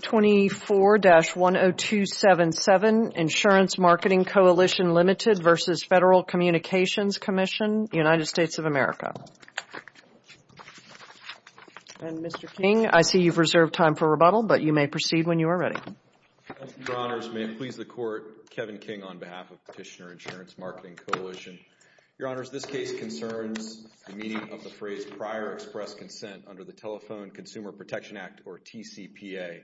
24-10277 Insurance Marketing Coalition Limited v. Federal Communications Commission, United States of America. And, Mr. King, I see you've reserved time for rebuttal, but you may proceed when you are ready. Thank you, Your Honors. May it please the Court, Kevin King on behalf of Petitioner Insurance Marketing Coalition. Your Honors, this case concerns the meaning of the phrase prior express consent under the Telephone Consumer Protection Act, or TCPA.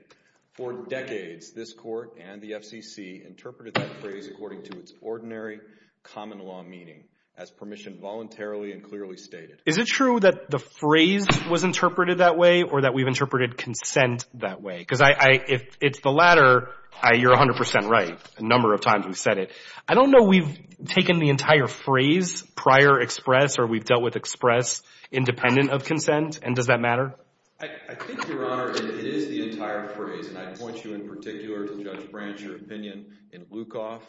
For decades, this Court and the FCC interpreted that phrase according to its ordinary common law meaning, as permission voluntarily and clearly stated. Is it true that the phrase was interpreted that way or that we've interpreted consent that way? Because if it's the latter, you're 100% right a number of times we've said it. I don't know we've taken the entire phrase prior express or we've dealt with express independent of consent. And does that matter? I think, Your Honor, it is the entire phrase. And I'd point you in particular to Judge Branch, your opinion in Lukoff,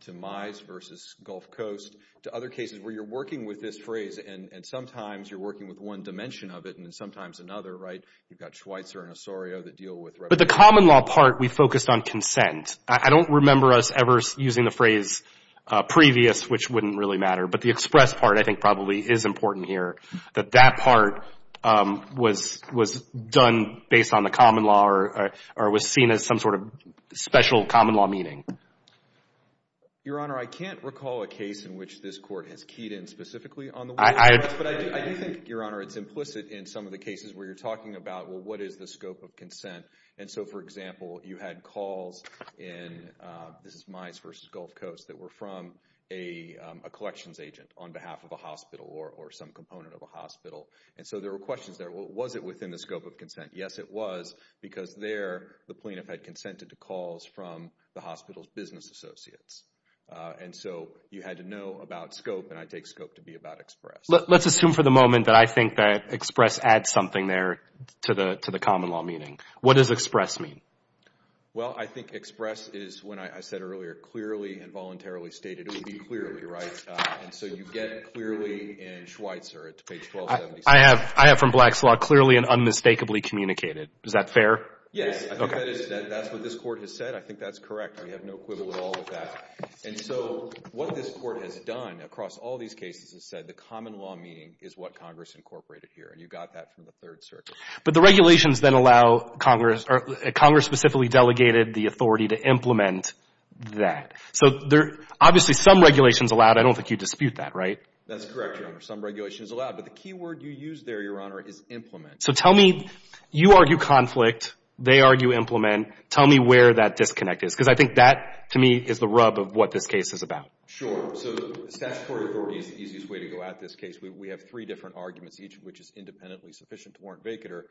to Mize v. Gulf Coast, to other cases where you're working with this phrase and sometimes you're working with one dimension of it and sometimes another, right? You've got Schweitzer and Osorio that deal with rebuttal. But the common law part, we focused on consent. I don't remember us ever using the phrase previous, which wouldn't really matter. But the express part, I think, probably is important here, that that part was done based on the common law or was seen as some sort of special common law meaning. Your Honor, I can't recall a case in which this court has keyed in specifically on the But I do think, Your Honor, it's implicit in some of the cases where you're talking about, well, what is the scope of consent? And so, for example, you had calls in, this is Mize v. Gulf Coast, that were from a collections agent on behalf of a hospital or some component of a hospital. And so there were questions there. Was it within the scope of consent? Yes, it was, because there, the plaintiff had consented to calls from the hospital's business associates. And so you had to know about scope, and I take scope to be about express. Let's assume for the moment that I think that express adds something there to the common law meaning. What does express mean? Well, I think express is, when I said earlier, clearly and voluntarily stated, it would be clearly, right? And so you get clearly in Schweitzer at page 1276. I have, from Black's Law, clearly and unmistakably communicated. Is that fair? Yes. Okay. I think that is, that's what this court has said. I think that's correct. We have no equivalent at all with that. And so what this court has done across all these cases has said the common law meaning is what Congress incorporated here, and you got that from the Third Circuit. But the regulations then allow Congress, or Congress specifically delegated the authority to implement that. So there, obviously, some regulations allowed. I don't think you dispute that, right? That's correct, Your Honor. Some regulations allowed. But the key word you used there, Your Honor, is implement. So tell me, you argue conflict, they argue implement. Tell me where that disconnect is, because I think that, to me, is the rub of what this case is about. Sure. So statutory authority is the easiest way to go at this case. We have three different arguments, each of which is independently sufficient to warrant vacater.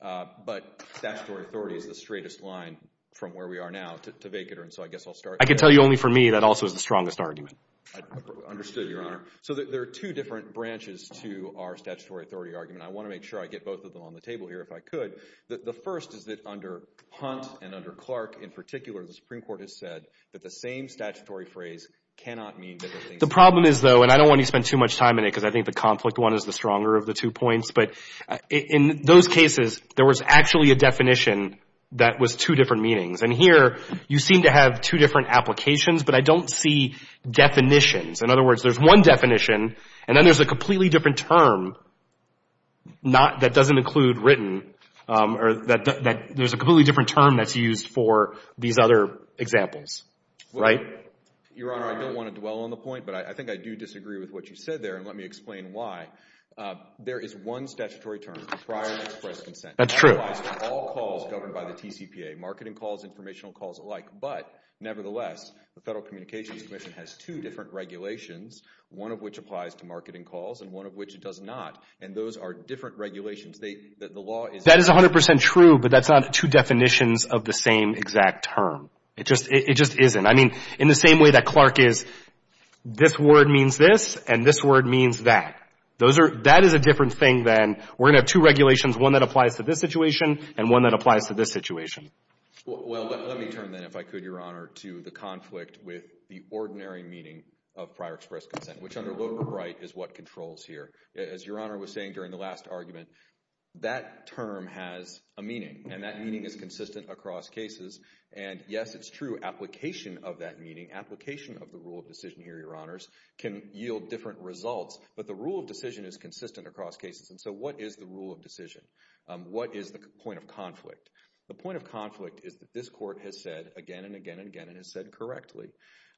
But statutory authority is the straightest line from where we are now to vacater, and so I guess I'll start there. I can tell you only for me, that also is the strongest argument. Understood, Your Honor. So there are two different branches to our statutory authority argument. I want to make sure I get both of them on the table here, if I could. The first is that under Hunt and under Clark, in particular, the Supreme Court has said that the same statutory phrase cannot mean different things. The problem is, though, and I don't want to spend too much time in it, because I think the conflict one is the stronger of the two points, but in those cases, there was actually a definition that was two different meanings. And here, you seem to have two different applications, but I don't see definitions. In other words, there's one definition, and then there's a completely different term that doesn't include written, or that there's a completely different term that's used for these other examples. Right? Well, Your Honor, I don't want to dwell on the point, but I think I do disagree with what you said there, and let me explain why. There is one statutory term, the prior and express consent. That's true. It applies to all calls governed by the TCPA, marketing calls, informational calls alike. But nevertheless, the Federal Communications Commission has two different regulations, one of which applies to marketing calls, and one of which it does not. And those are different regulations. The law is... That is 100% true, but that's not two definitions of the same exact term. It just isn't. I mean, in the same way that Clark is, this word means this, and this word means that. That is a different thing than, we're going to have two regulations, one that applies to this situation, and one that applies to this situation. Well, let me turn then, if I could, Your Honor, to the conflict with the ordinary meaning of prior express consent, which under Loper Wright is what controls here. As Your Honor was saying during the last argument, that term has a meaning, and that meaning is consistent across cases. And yes, it's true, application of that meaning, application of the rule of decision here, Your Honors, can yield different results. But the rule of decision is consistent across cases. And so, what is the rule of decision? What is the point of conflict? The point of conflict is that this Court has said again and again and again, and has said correctly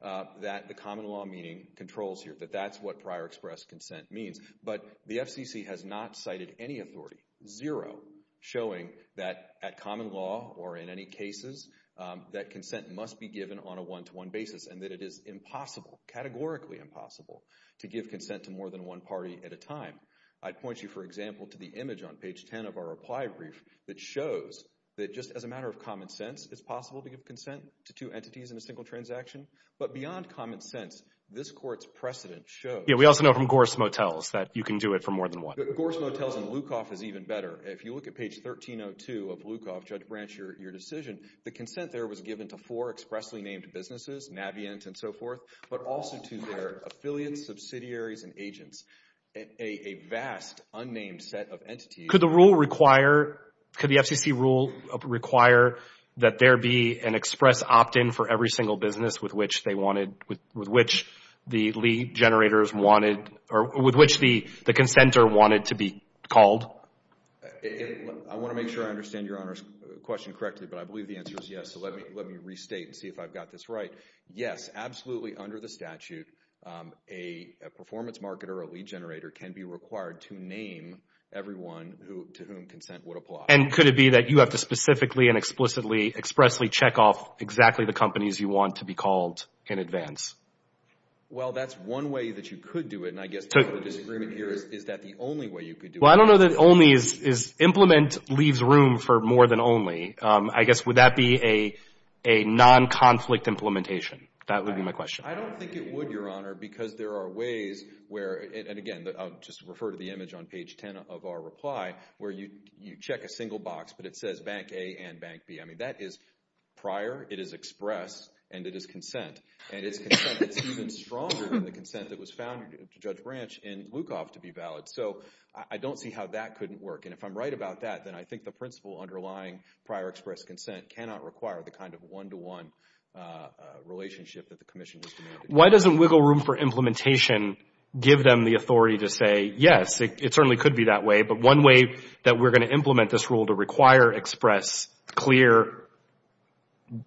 that the common law meaning controls here, that that's what prior express consent means. But the FCC has not cited any authority, zero, showing that at common law or in any cases, that consent must be given on a one-to-one basis, and that it is impossible, categorically impossible, to give consent to more than one party at a time. I'd point you, for example, to the image on page 10 of our reply brief that shows that just as a matter of common sense, it's possible to give consent to two entities in a single transaction. But beyond common sense, this Court's precedent shows... Yeah, we also know from Gorse Motels that you can do it for more than one. Gorse Motels and Lukoff is even better. If you look at page 1302 of Lukoff, Judge Branch, your decision, the consent there was given to four expressly named businesses, Navient and so forth, but also to their affiliates, subsidiaries, and agents, a vast unnamed set of entities. Could the rule require, could the FCC rule require that there be an express opt-in for every single business with which they wanted, with which the lead generators wanted or with which the consenter wanted to be called? I want to make sure I understand your Honor's question correctly, but I believe the answer is yes, so let me restate and see if I've got this right. But yes, absolutely under the statute, a performance marketer or a lead generator can be required to name everyone to whom consent would apply. And could it be that you have to specifically and explicitly, expressly check off exactly the companies you want to be called in advance? Well, that's one way that you could do it, and I guess the disagreement here is, is that the only way you could do it? Well, I don't know that only is... Implement leaves room for more than only. I guess, would that be a non-conflict implementation? That would be my question. I don't think it would, Your Honor, because there are ways where, and again, I'll just refer to the image on page 10 of our reply, where you check a single box, but it says Bank A and Bank B. I mean, that is prior, it is expressed, and it is consent. And it's consent that's even stronger than the consent that was found in Judge Branch in Lukoff to be valid. So I don't see how that couldn't work. And if I'm right about that, then I think the principle underlying prior express consent cannot require the kind of one-to-one relationship that the Commission has demanded. Why doesn't wiggle room for implementation give them the authority to say, yes, it certainly could be that way, but one way that we're going to implement this rule to require express clear,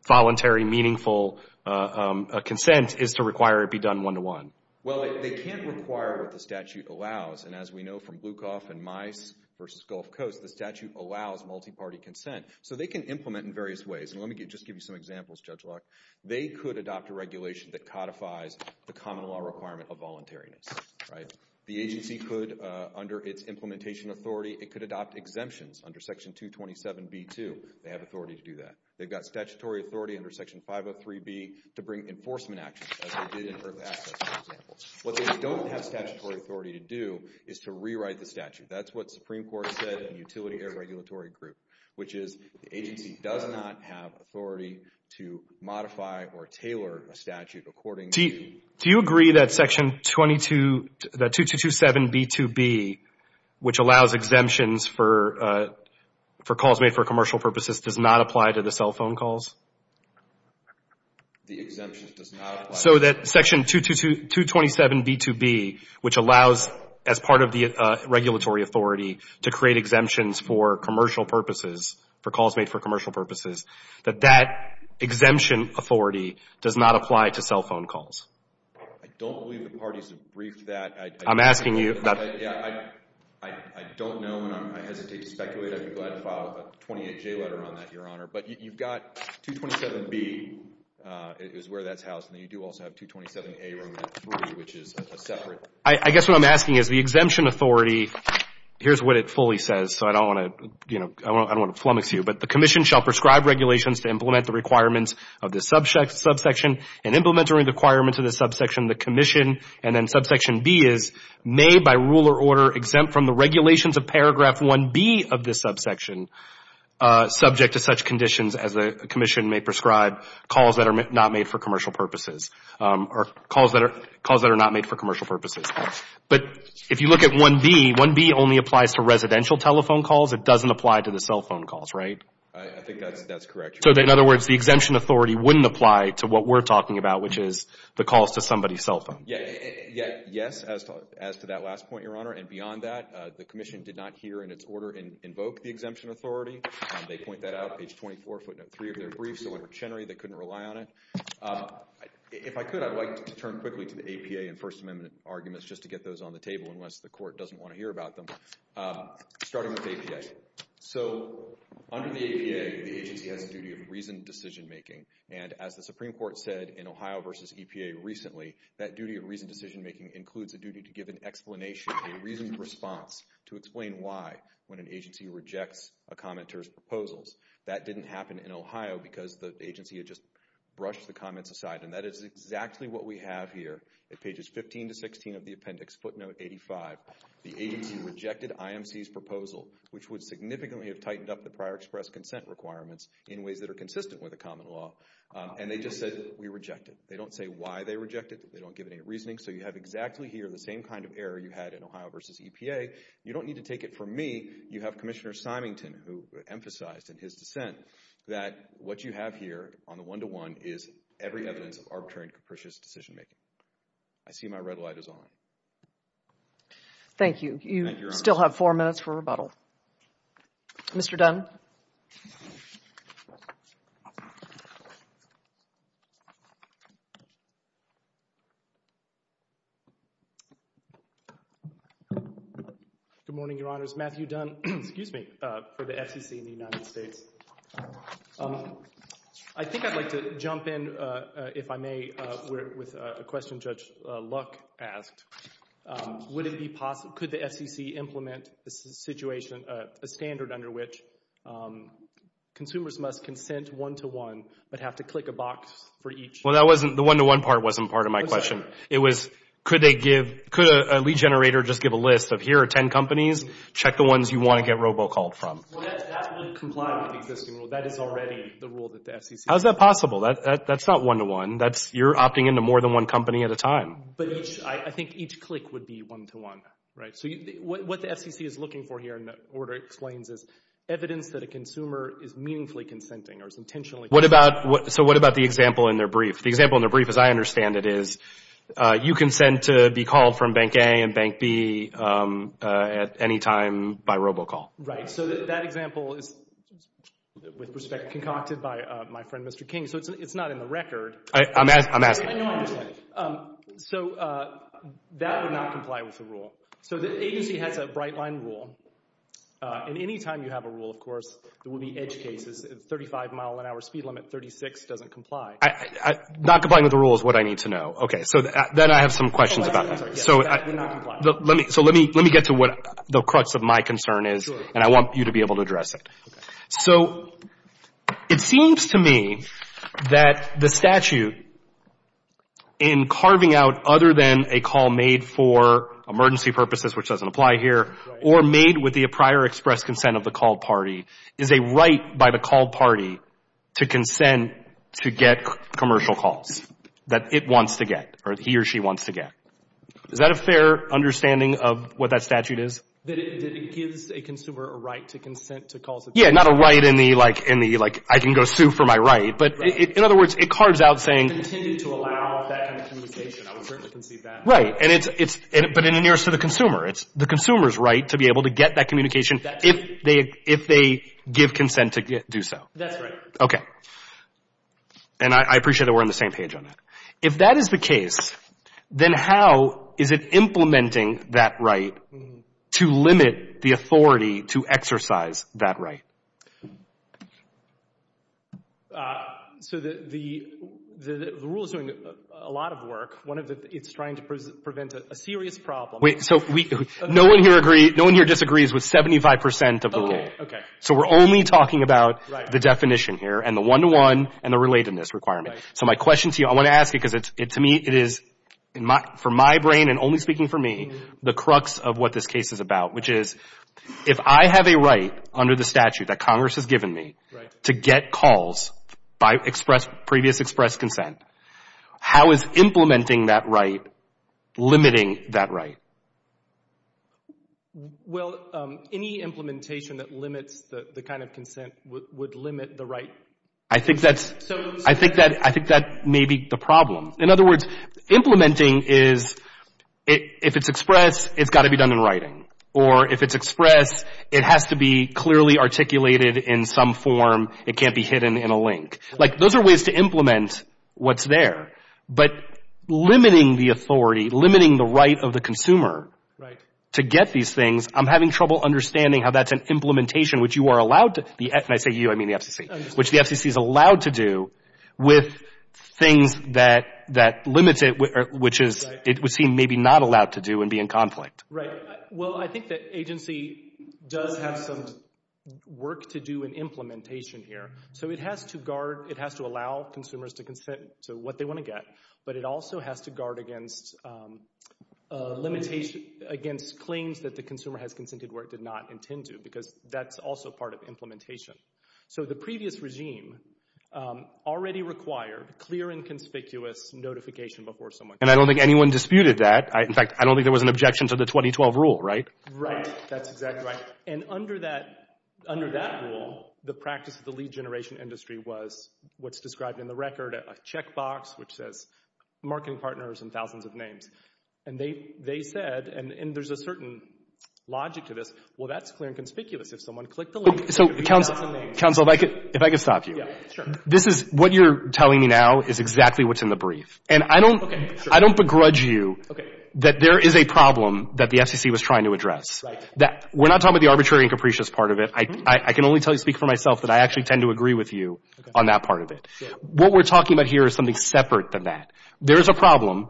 voluntary, meaningful consent is to require it be done one-to-one? Well, they can't require what the statute allows. And as we know from Blukoff and Mice v. Gulf Coast, the statute allows multi-party consent. So they can implement in various ways. And let me just give you some examples, Judge Locke. They could adopt a regulation that codifies the common law requirement of voluntariness, right? The agency could, under its implementation authority, it could adopt exemptions under Section 227b-2. They have authority to do that. They've got statutory authority under Section 503b to bring enforcement action, as they did in Herb Assess, for example. What they don't have statutory authority to do is to rewrite the statute. That's what the Supreme Court said in the Utility Regulatory Group, which is the agency does not have authority to modify or tailor a statute according to... Do you agree that Section 227b-2b, which allows exemptions for calls made for commercial purposes, does not apply to the cell phone calls? The exemptions does not apply. So that Section 227b-2b, which allows, as part of the regulatory authority, to create exemptions for commercial purposes, for calls made for commercial purposes, that that exemption authority does not apply to cell phone calls. I don't believe the parties have briefed that. I'm asking you... I don't know, and I hesitate to speculate. I'd be glad to file a 28J letter on that, Your Honor. But you've got 227b is where that's housed, and you do also have Section 227b-2b. You also have 227a, which is a separate... I guess what I'm asking is the exemption authority... Here's what it fully says, so I don't want to, you know, I don't want to flummox you, but the Commission shall prescribe regulations to implement the requirements of this subsection and implement the requirements of this subsection. The Commission and then subsection b is made by rule or order exempt from the regulations of paragraph 1b of this subsection subject to such conditions as the Commission may prescribe calls that are not made for commercial purposes, or calls that are not made for commercial purposes. But if you look at 1b, 1b only applies to residential telephone calls. It doesn't apply to the cell phone calls, right? I think that's correct, Your Honor. So in other words, the exemption authority wouldn't apply to what we're talking about, which is the calls to somebody's cell phone. Yes, as to that last point, Your Honor, and beyond that, the Commission did not hear in its order invoke the exemption authority. They point that out, page 24, footnote 3 of their brief, so under Chenery, they couldn't rely on it. If I could, I'd like to turn quickly to the APA and First Amendment arguments, just to get those on the table, unless the Court doesn't want to hear about them, starting with APA. So under the APA, the agency has a duty of reasoned decision-making, and as the Supreme Court said in Ohio v. EPA recently, that duty of reasoned decision-making includes a duty to give an explanation, a reasoned response to explain why, when an agency rejects a comment or enters proposals. That didn't happen in Ohio because the agency had just brushed the comments aside, and that is exactly what we have here at pages 15 to 16 of the appendix, footnote 85. The agency rejected IMC's proposal, which would significantly have tightened up the prior express consent requirements in ways that are consistent with the common law, and they just said, we reject it. They don't say why they reject it, they don't give any reasoning, so you have exactly here the same kind of error you had in Ohio v. EPA. You don't need to take it from me, you have Commissioner Symington who emphasized in his dissent that what you have here on the one-to-one is every evidence of arbitrary and capricious decision-making. I see my red light is on. Thank you. You still have four minutes for rebuttal. Mr. Dunn. Good morning, Your Honors. Matthew Dunn, excuse me, for the FCC in the United States. I think I'd like to jump in, if I may, with a question Judge Luck asked. Would it be possible, could the FCC implement a situation, a standard under which consumers must consent one-to-one but have to click a box for each? Well, that wasn't, the one-to-one part wasn't part of my question. It was, could they give, could a lead generator just give a list of here are ten companies, check the ones you want to get robocalled from? Well, that would comply with the existing rule. That is already the rule that the FCC has. How is that possible? That's not one-to-one. That's, you're opting into more than one company at a time. But each, I think each click would be one-to-one, right? So what the FCC is looking for here, and the order explains, is evidence that a consumer is meaningfully consenting or is intentionally consenting. What about, so what about the example in their brief? The example in their brief, as I understand it, is you consent to be called from Bank A and Bank B at any time by robocall. Right, so that example is, with respect, concocted by my friend Mr. King. So it's not in the record. I'm asking. So that would not comply with the rule. So the agency has a bright-line rule, and any time you have a rule, of course, there will be edge cases. A 35-mile-an-hour speed limit, 36 doesn't comply. Not complying with the rule is what I need to know. Okay, so then I have some questions about that. So let me get to what the crux of my concern is, and I want you to be able to address it. Okay. So it seems to me that the statute, in carving out other than a call made for emergency purposes, which doesn't apply here, or made with the prior expressed consent of the called party, is a right by the called party to consent to get commercial calls that it wants to get, or he or she wants to get. Is that a fair understanding of what that statute is? That it gives a consumer a right to consent to calls? Yeah, not a right in the, like, I can go sue for my right. But in other words, it carves out saying... If it's intended to allow that kind of communication, I would certainly conceive that. Right. But in the nearest to the consumer. It's the consumer's right to be able to get that communication if they give consent to do so. That's right. Okay. And I appreciate that we're on the same page on that. If that is the case, then how is it implementing that right to limit the authority to exercise that right? So the rule is doing a lot of work. One of the, it's trying to prevent a serious problem. Wait. So no one here agrees, no one here disagrees with 75 percent of the rule. Okay. Okay. So we're only talking about the definition here and the one-to-one and the relatedness requirement. Right. So my question to you, I want to ask you because to me it is, for my brain and only speaking for me, the crux of what this case is about, which is if I have a right under the statute that Congress has given me to get calls by previous expressed consent, how is implementing that right limiting that right? Well, any implementation that limits the kind of consent would limit the right. I think that's, I think that may be the problem. In other words, implementing is, if it's expressed, it's got to be done in writing. Or if it's expressed, it has to be clearly articulated in some form. It can't be hidden in a link. Like those are ways to implement what's there. But limiting the authority, limiting the right of the consumer to get these things, I'm having trouble understanding how that's an implementation which you are allowed to, and I say you, I think the FCC is allowed to do with things that limit it, which is it would seem maybe not allowed to do and be in conflict. Right. Well, I think that agency does have some work to do in implementation here. So it has to guard, it has to allow consumers to consent to what they want to get. But it also has to guard against limitations, against claims that the consumer has consented where it did not intend to because that's also part of implementation. So the previous regime already required clear and conspicuous notification before someone And I don't think anyone disputed that. In fact, I don't think there was an objection to the 2012 rule, right? Right. That's exactly right. And under that rule, the practice of the lead generation industry was what's described in the record, a checkbox which says marketing partners and thousands of names. And they said, and there's a certain logic to this, well, that's clear and conspicuous if someone clicked the link. So, counsel, if I could stop you. This is what you're telling me now is exactly what's in the brief. And I don't begrudge you that there is a problem that the FCC was trying to address. We're not talking about the arbitrary and capricious part of it. I can only speak for myself that I actually tend to agree with you on that part of it. What we're talking about here is something separate than that. There is a problem.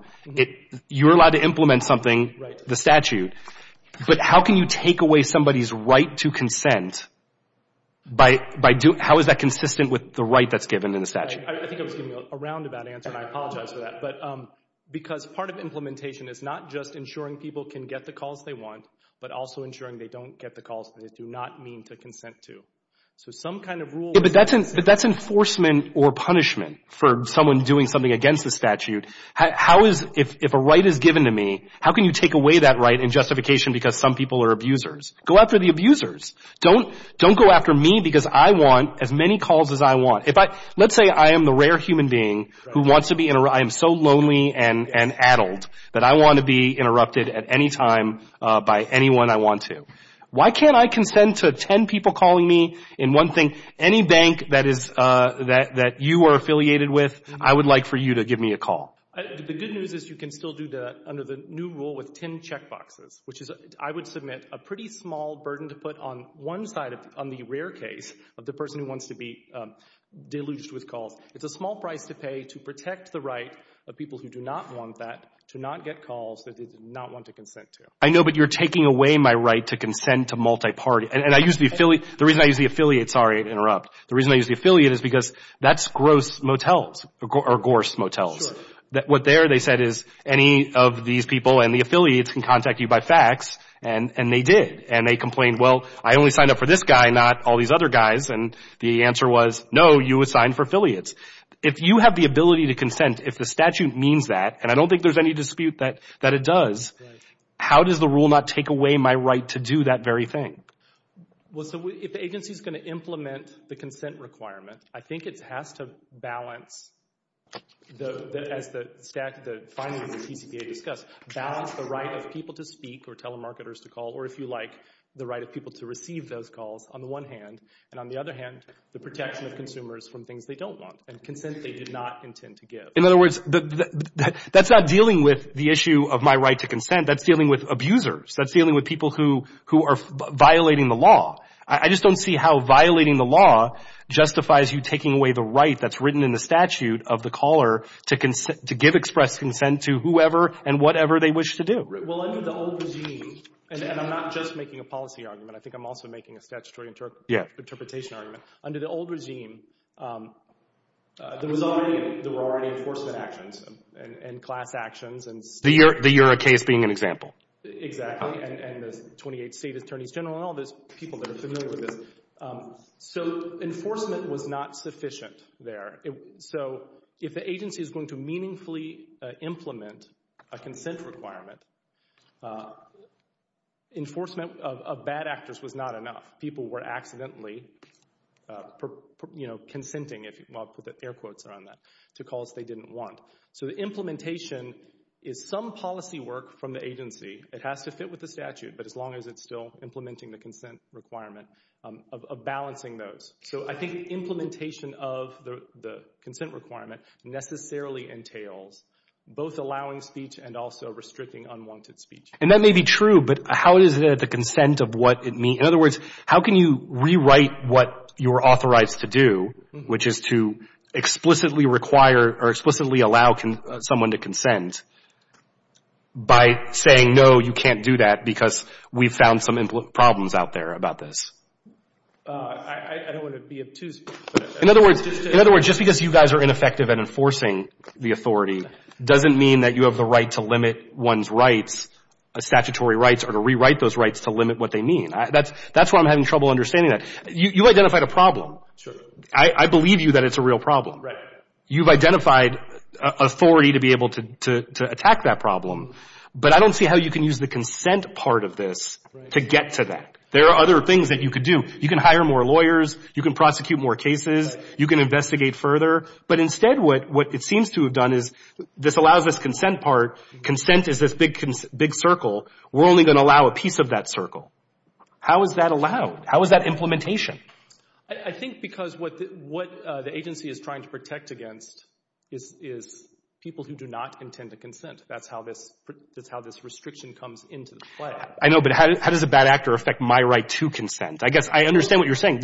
You're allowed to implement something, the statute. But how can you take away somebody's right to consent? How is that consistent with the right that's given in the statute? I think I was giving a roundabout answer, and I apologize for that. Because part of implementation is not just ensuring people can get the calls they want, but also ensuring they don't get the calls that they do not mean to consent to. So some kind of rule... But that's enforcement or punishment for someone doing something against the statute. How is... If a right is given to me, how can you take away that right in justification because some people are abusers? Go after the abusers. Don't go after me because I want as many calls as I want. Let's say I am the rare human being who wants to be... I am so lonely and addled that I want to be interrupted at any time by anyone I want to. Why can't I consent to 10 people calling me in one thing? Any bank that you are affiliated with, I would like for you to give me a call. The good news is you can still do that under the new rule with 10 checkboxes, which is I would submit a pretty small burden to put on one side on the rare case of the person who wants to be deluged with calls. It's a small price to pay to protect the right of people who do not want that to not get calls that they do not want to consent to. I know, but you're taking away my right to consent to multiparty. The reason I use the affiliate, sorry to interrupt. The reason I use the affiliate is because that's gross motels or gorse motels. What they said is any of these people and the affiliates can contact you by fax, and they did. They complained, well, I only signed up for this guy, not all these other guys. The answer was, no, you assigned for affiliates. If you have the ability to consent, if the statute means that, and I don't think there's any dispute that it does, how does the rule not take away my right to do that very thing? Well, so if the agency is going to implement the consent requirement, I think it has to balance, as the findings of the TCPA discuss, balance the right of people to speak or telemarketers to call, or if you like, the right of people to receive those calls on the one hand, and on the other hand, the protection of consumers from things they don't want and consent they did not intend to give. In other words, that's not dealing with the issue of my right to consent. That's dealing with abusers. That's dealing with people who are violating the law. I just don't see how violating the law justifies you taking away the right that's written in the statute of the caller to give expressed consent to whoever and whatever they wish to do. Well, under the old regime, and I'm not just making a policy argument. I think I'm also making a statutory interpretation argument. Under the old regime, there were already enforcement actions and class actions. The Eurocase being an example. Exactly, and the 28th State Attorneys General and all those people that are familiar with this. So enforcement was not sufficient there. So if the agency is going to meaningfully implement a consent requirement, enforcement of bad actors was not enough. People were accidentally consenting, I'll put air quotes around that, to calls they didn't want. So the implementation is some policy work from the agency. It has to fit with the statute, but as long as it's still implementing the consent requirement of balancing those. So I think implementation of the consent requirement necessarily entails both allowing speech and also restricting unwanted speech. And that may be true, but how is it the consent of what it means? In other words, how can you rewrite what you're authorized to do, which is to explicitly require or explicitly allow someone to consent by saying no, you can't do that because we've found some problems out there about this? I don't want to be obtuse. In other words, just because you guys are ineffective in enforcing the authority doesn't mean that you have the right to limit one's rights, statutory rights, or to rewrite those rights to limit what they mean. That's why I'm having trouble understanding that. You identified a problem. I believe you that it's a real problem. You've identified authority to be able to attack that problem, but I don't see how you can use the consent part of this to get to that. There are other things that you could do. You can hire more lawyers. You can prosecute more cases. You can investigate further. But instead, what it seems to have done is this allows us consent part. Consent is this big circle. We're only going to allow a piece of that circle. How is that allowed? How is that implementation? I think because what the agency is trying to protect against is people who do not intend to consent. That's how this restriction comes into play. I know, but how does a bad actor affect my right to consent? I understand what you're saying.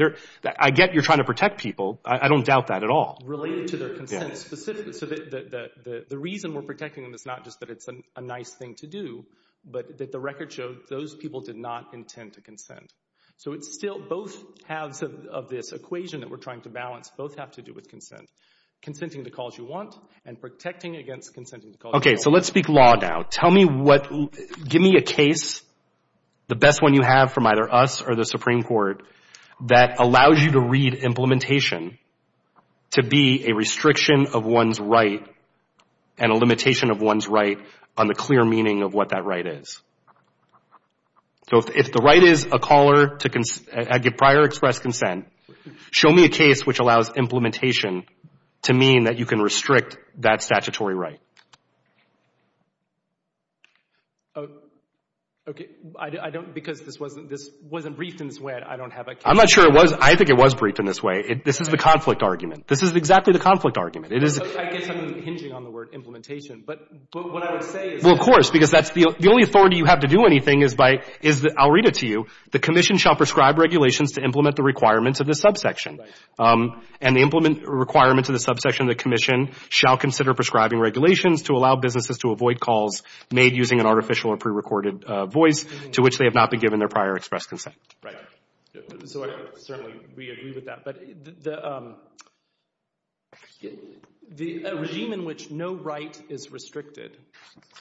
I get you're trying to protect people. I don't doubt that at all. Related to their consent specifically. The reason we're protecting them is not just that it's a nice thing to do, but that the record showed those people did not intend to consent. So it's still both halves of this equation that we're trying to balance both have to do with consent. Consenting to calls you want and protecting against consenting to calls you don't. Okay, so let's speak law now. Tell me what... Give me a case, the best one you have from either us or the Supreme Court that allows you to read implementation to be a restriction of one's right and a limitation of one's right on the clear meaning of what that right is. So if the right is a caller to prior express consent, show me a case which allows implementation to mean that you can restrict that statutory right. Okay, I don't... Because this wasn't briefed in this way, I don't have a case... I'm not sure it was. I think it was briefed in this way. This is the conflict argument. This is exactly the conflict argument. I guess I'm hinging on the word implementation, but what I would say is... Well, of course, because the only authority you have to do anything is by... I'll read it to you. The commission shall prescribe regulations to implement the requirements of the subsection. Right. And the requirements of the subsection of the commission shall consider prescribing regulations to allow businesses to avoid calls made using an artificial or pre-recorded voice to which they have not been given their prior express consent. Right. So certainly we agree with that. But the... A regime in which no right is restricted,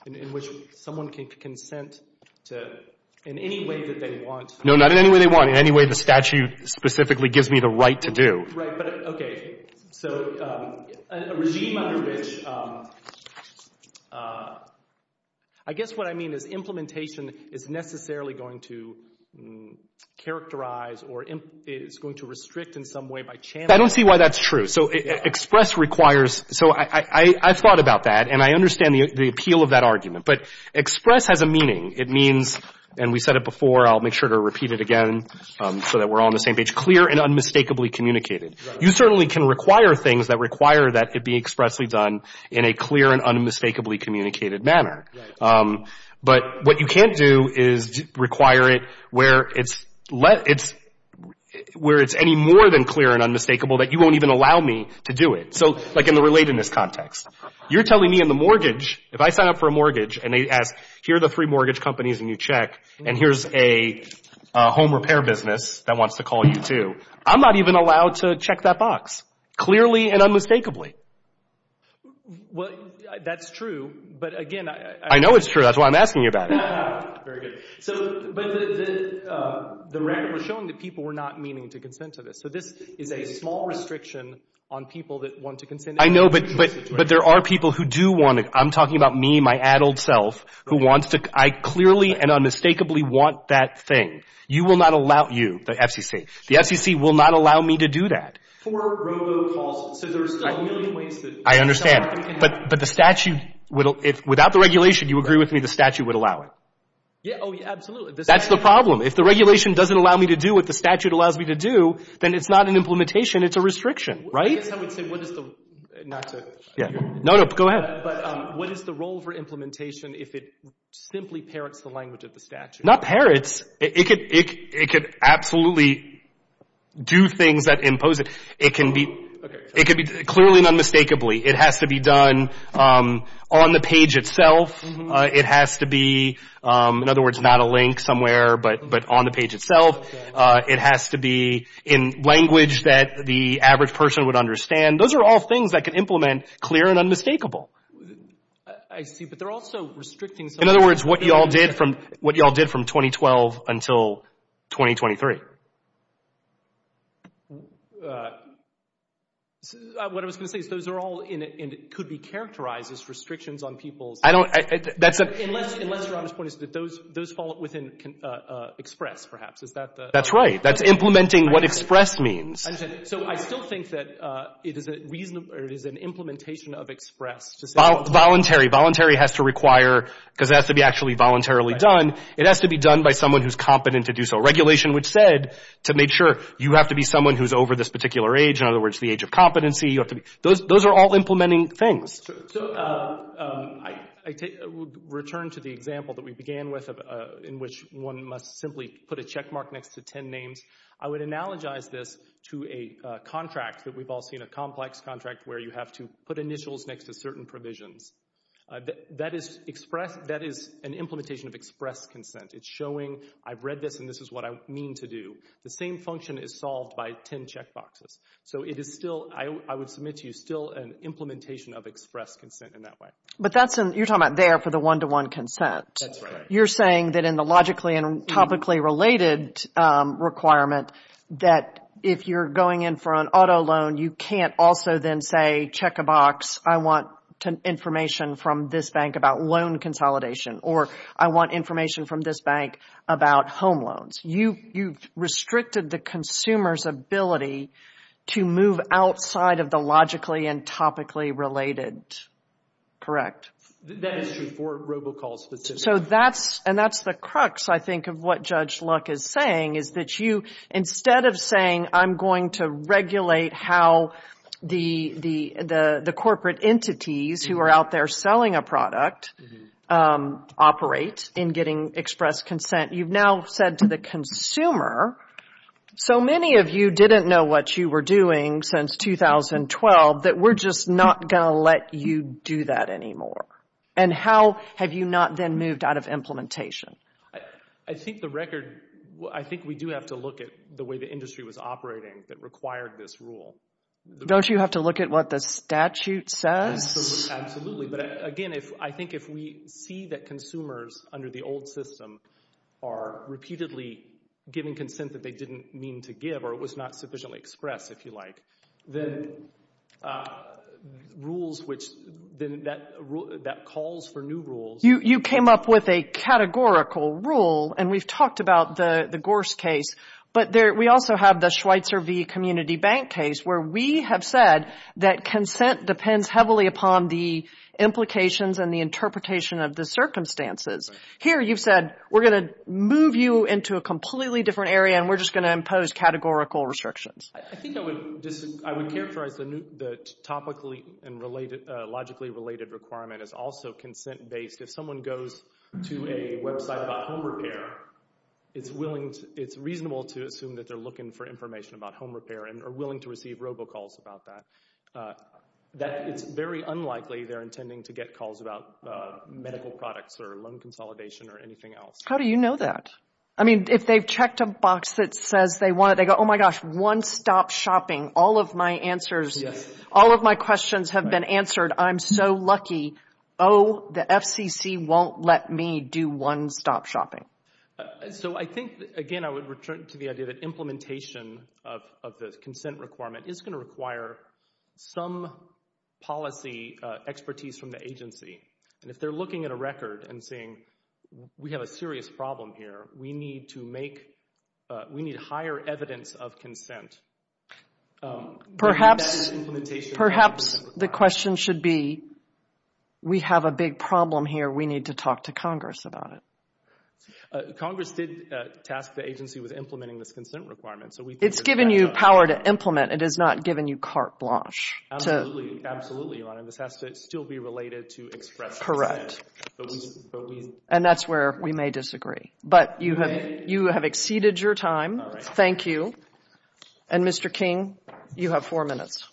in which someone can consent to... in any way that they want... No, not in any way they want. In any way the statute specifically gives me the right to do. Right, but okay. So a regime under which... I guess what I mean is implementation is necessarily going to characterize or is going to restrict in some way by chance. I don't see why that's true. So express requires... So I've thought about that and I understand the appeal of that argument. But express has a meaning. It means, and we said it before, I'll make sure to repeat it again so that we're all on the same page, clear and unmistakably communicated. Right. You certainly can require things that require that it be expressly done in a clear and unmistakably communicated manner. Right. But what you can't do is require it where it's... where it's any more than clear and unmistakable that you won't even allow me to do it. So like in the relatedness context. You're telling me in the mortgage, if I sign up for a mortgage and they ask, here are the three mortgage companies and you check and here's a home repair business that wants to call you too, I'm not even allowed to check that box. Clearly and unmistakably. Well, that's true. But again... I know it's true. That's why I'm asking you about it. Very good. So, but the record was showing that people were not meaning to consent to this. So this is a small restriction on people that want to consent. I know, but there are people who do want it. I'm talking about me, my addled self, who wants to... I clearly and unmistakably want that thing. You will not allow... You, the FCC. The FCC will not allow me to do that. For robocalls. So there's still a million ways that... I understand. But the statute... Without the regulation, you agree with me, the statute would allow it. Oh, yeah, absolutely. That's the problem. If the regulation doesn't allow me to do what the statute allows me to do, then it's not an implementation. It's a restriction, right? I guess I would say, what is the... Not to... No, no, go ahead. But what is the role for implementation if it simply parrots the language of the statute? Not parrots. It could absolutely do things that impose it. It can be... Okay. It could be... Clearly and unmistakably, it has to be done on the page itself. It has to be, in other words, not a link somewhere, but on the page itself. It has to be in language that the average person would understand. Those are all things that can implement clear and unmistakable. I see, but they're also restricting... In other words, what y'all did from 2012 until 2023. What I was going to say is those are all, and it could be characterized as restrictions on people's... I don't... Unless your obvious point is that those fall within express, perhaps. That's right. That's implementing what express means. So I still think that it is an implementation of express. Voluntary. Voluntary has to require... Because it has to be actually voluntarily done. It has to be done by someone who's competent to do so. Regulation would said to make sure you have to be someone who's over this particular age. In other words, the age of competency. Those are all implementing things. So I take... Return to the example that we began with in which one must simply put a checkmark next to ten names. I would analogize this to a contract that we've all seen, a complex contract where you have to put initials next to certain provisions. That is express... That is an implementation of express consent. It's showing, I've read this and this is what I mean to do. The same function is solved by ten checkboxes. So it is still... I would submit to you still an implementation of express consent in that way. But that's... You're talking about there for the one-to-one consent. That's right. You're saying that in the logically and topically related requirement that if you're going in for an auto loan, you can't also then say, check a box. I want information from this bank about loan consolidation or I want information from this bank about home loans. You've restricted the consumer's ability to move outside of the logically and topically related. Correct? That is true for robocalls specifically. So that's... That's the crux I think of what Judge Luck is saying is that you, instead of saying I'm going to regulate how the corporate entities who are out there selling a product operate in getting express consent, you've now said to the consumer, so many of you didn't know what you were doing since 2012 that we're just not going to let you do that anymore. And how have you not then moved out of implementation? I think the record... I think we do have to look at the way the industry was operating that required this rule. Don't you have to look at what the statute says? Absolutely. But again, I think if we see that consumers under the old system are repeatedly giving consent that they didn't mean to give or it was not sufficiently expressed, if you like, then rules which... then that calls for new rules. You came up with a categorical rule and we've talked about the Gorse case, but we also have the Schweitzer v. Community Bank case where we have said that consent depends heavily upon the implications and the interpretation of the circumstances. Here you've said we're going to move you into a completely different area and we're just going to impose categorical restrictions. I think I would characterize the topically and logically related requirement as also consent based because if someone goes to a website about home repair, it's reasonable to assume that they're looking for information about home repair and are willing to receive robocalls about that. It's very unlikely they're intending to get calls about medical products or loan consolidation or anything else. How do you know that? I mean, if they've checked a box that says they want it, they go, oh my gosh, one-stop shopping. All of my answers, all of my questions have been answered. I'm so lucky. Oh, the FCC won't let me do one-stop shopping. So, I think, again, I would return to the idea that implementation of the consent requirement is going to require some policy expertise from the agency and if they're looking at a record and saying, we have a serious problem here, we need to make, we need higher evidence of consent. Perhaps, perhaps, the question should be we have a big problem here. We need to talk to Congress about it. Congress did task the agency with implementing this consent requirement. It's given you power to implement. It has not given you carte blanche. Absolutely, This has to still be related to expression. Correct. And that's where we may disagree. But, you have exceeded your time. Thank you. And Mr. King, you have four minutes.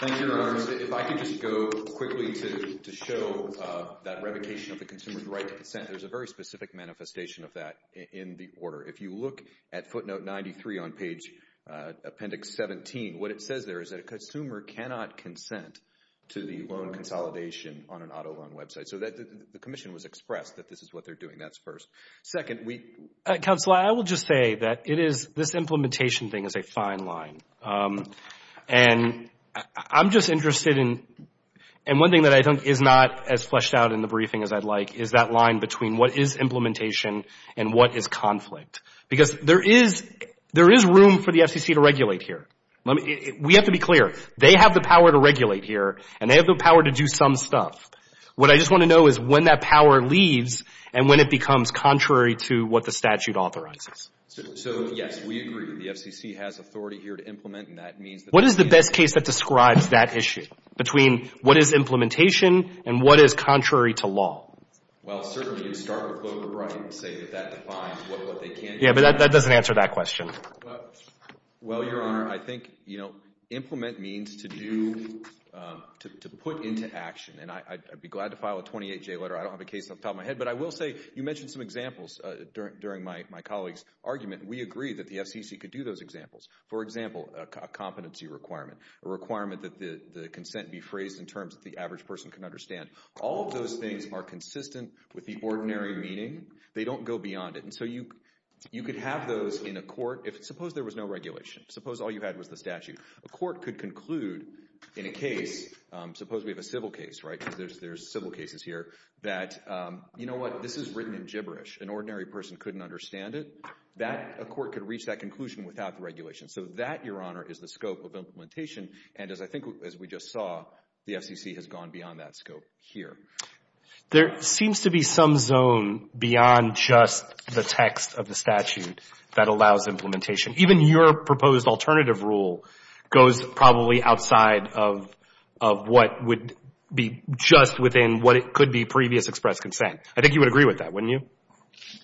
Thank you, Your Honors. If I could just go quickly to show that revocation of the consumer's right to consent. There's a very specific manifestation of that in the order. If you look at footnote 93 on page appendix 17, what it says there is that a consumer cannot consent to the loan consolidation on an auto loan website. So the commission was expressed that this is what they're doing. That's first. Second, we, Counselor, I will just say that it is, this implementation thing is a fine line. And, I'm just interested in, and one thing that I think is not as fleshed out in the briefing as I'd like is that line between what is implementation and what is conflict. Because there is room for the FCC to regulate here. We have to be clear, they have the power to regulate here and they have the power to do some stuff. What I just want to know is when that power leaves and when it becomes contrary to what the statute authorizes. yes, we agree. The FCC has authority here to implement and that means that. What is the best case that describes that issue? Between what is implementation and what is contrary to law? Well, certainly you start with Loeb or I don't have a case off the top of my head but I will say you mentioned some examples during my colleague's We agree that the FCC could do those examples. For example, a competency requirement, a requirement that the consent be phrased in terms that the average person can understand. All of those things are consistent with the civil case, right? There's civil cases here that, you know what, this is written in gibberish. An ordinary person couldn't understand it. That, a court could reach that conclusion without regulation. So that, is the scope of implementation and as I think as we just saw, the FCC has gone beyond that scope here. There seems to be some zone beyond just the text of the statute that allows implementation. Even your proposed alternative rule goes probably outside of what would be just within what it could be previous express consent. I think you would agree with that, wouldn't you?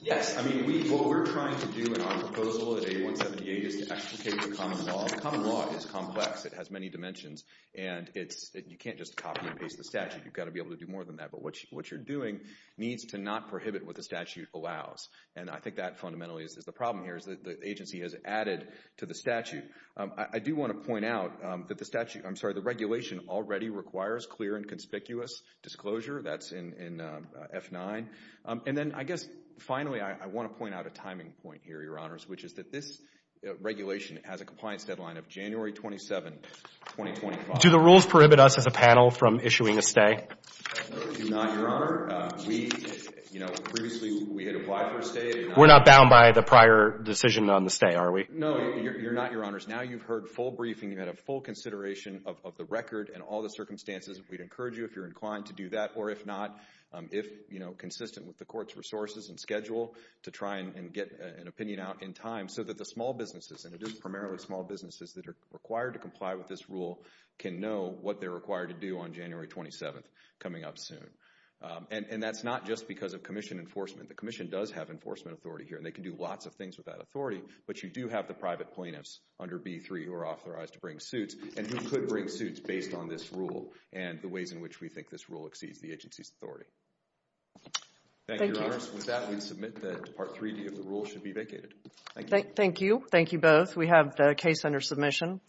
Yes. I mean, what we're trying to do in our proposal is to actually take the common law. Common law is complex. It has many dimensions and you can't just copy and paste the statute. You've got to be able to do more than that. But what you're doing needs to not prohibit what the allows. And I think that fundamentally is the problem here. The agency has added to the statute. I do want to point out that the statute, I'm sorry, the regulation already requires clear and conspicuous disclosure. That's in F9. And then, I guess, finally, I want to point out a timing point here, Your Honors, which is that this regulation has a compliance deadline of January 27, 2025. Do the You're not, Your Honors. Now you've heard full briefing. You had a full consideration of the record and all the circumstances. We'd encourage you, if you're inclined to do that, or if not, if, you know, consistent with the court's resources and schedule, to try and get an opinion out in time so that the court can decide what to do with the case. And we would encourage you to also ask the court to and for the Thank you. Thank you both. We have the case under submission. Thank you. Thank you.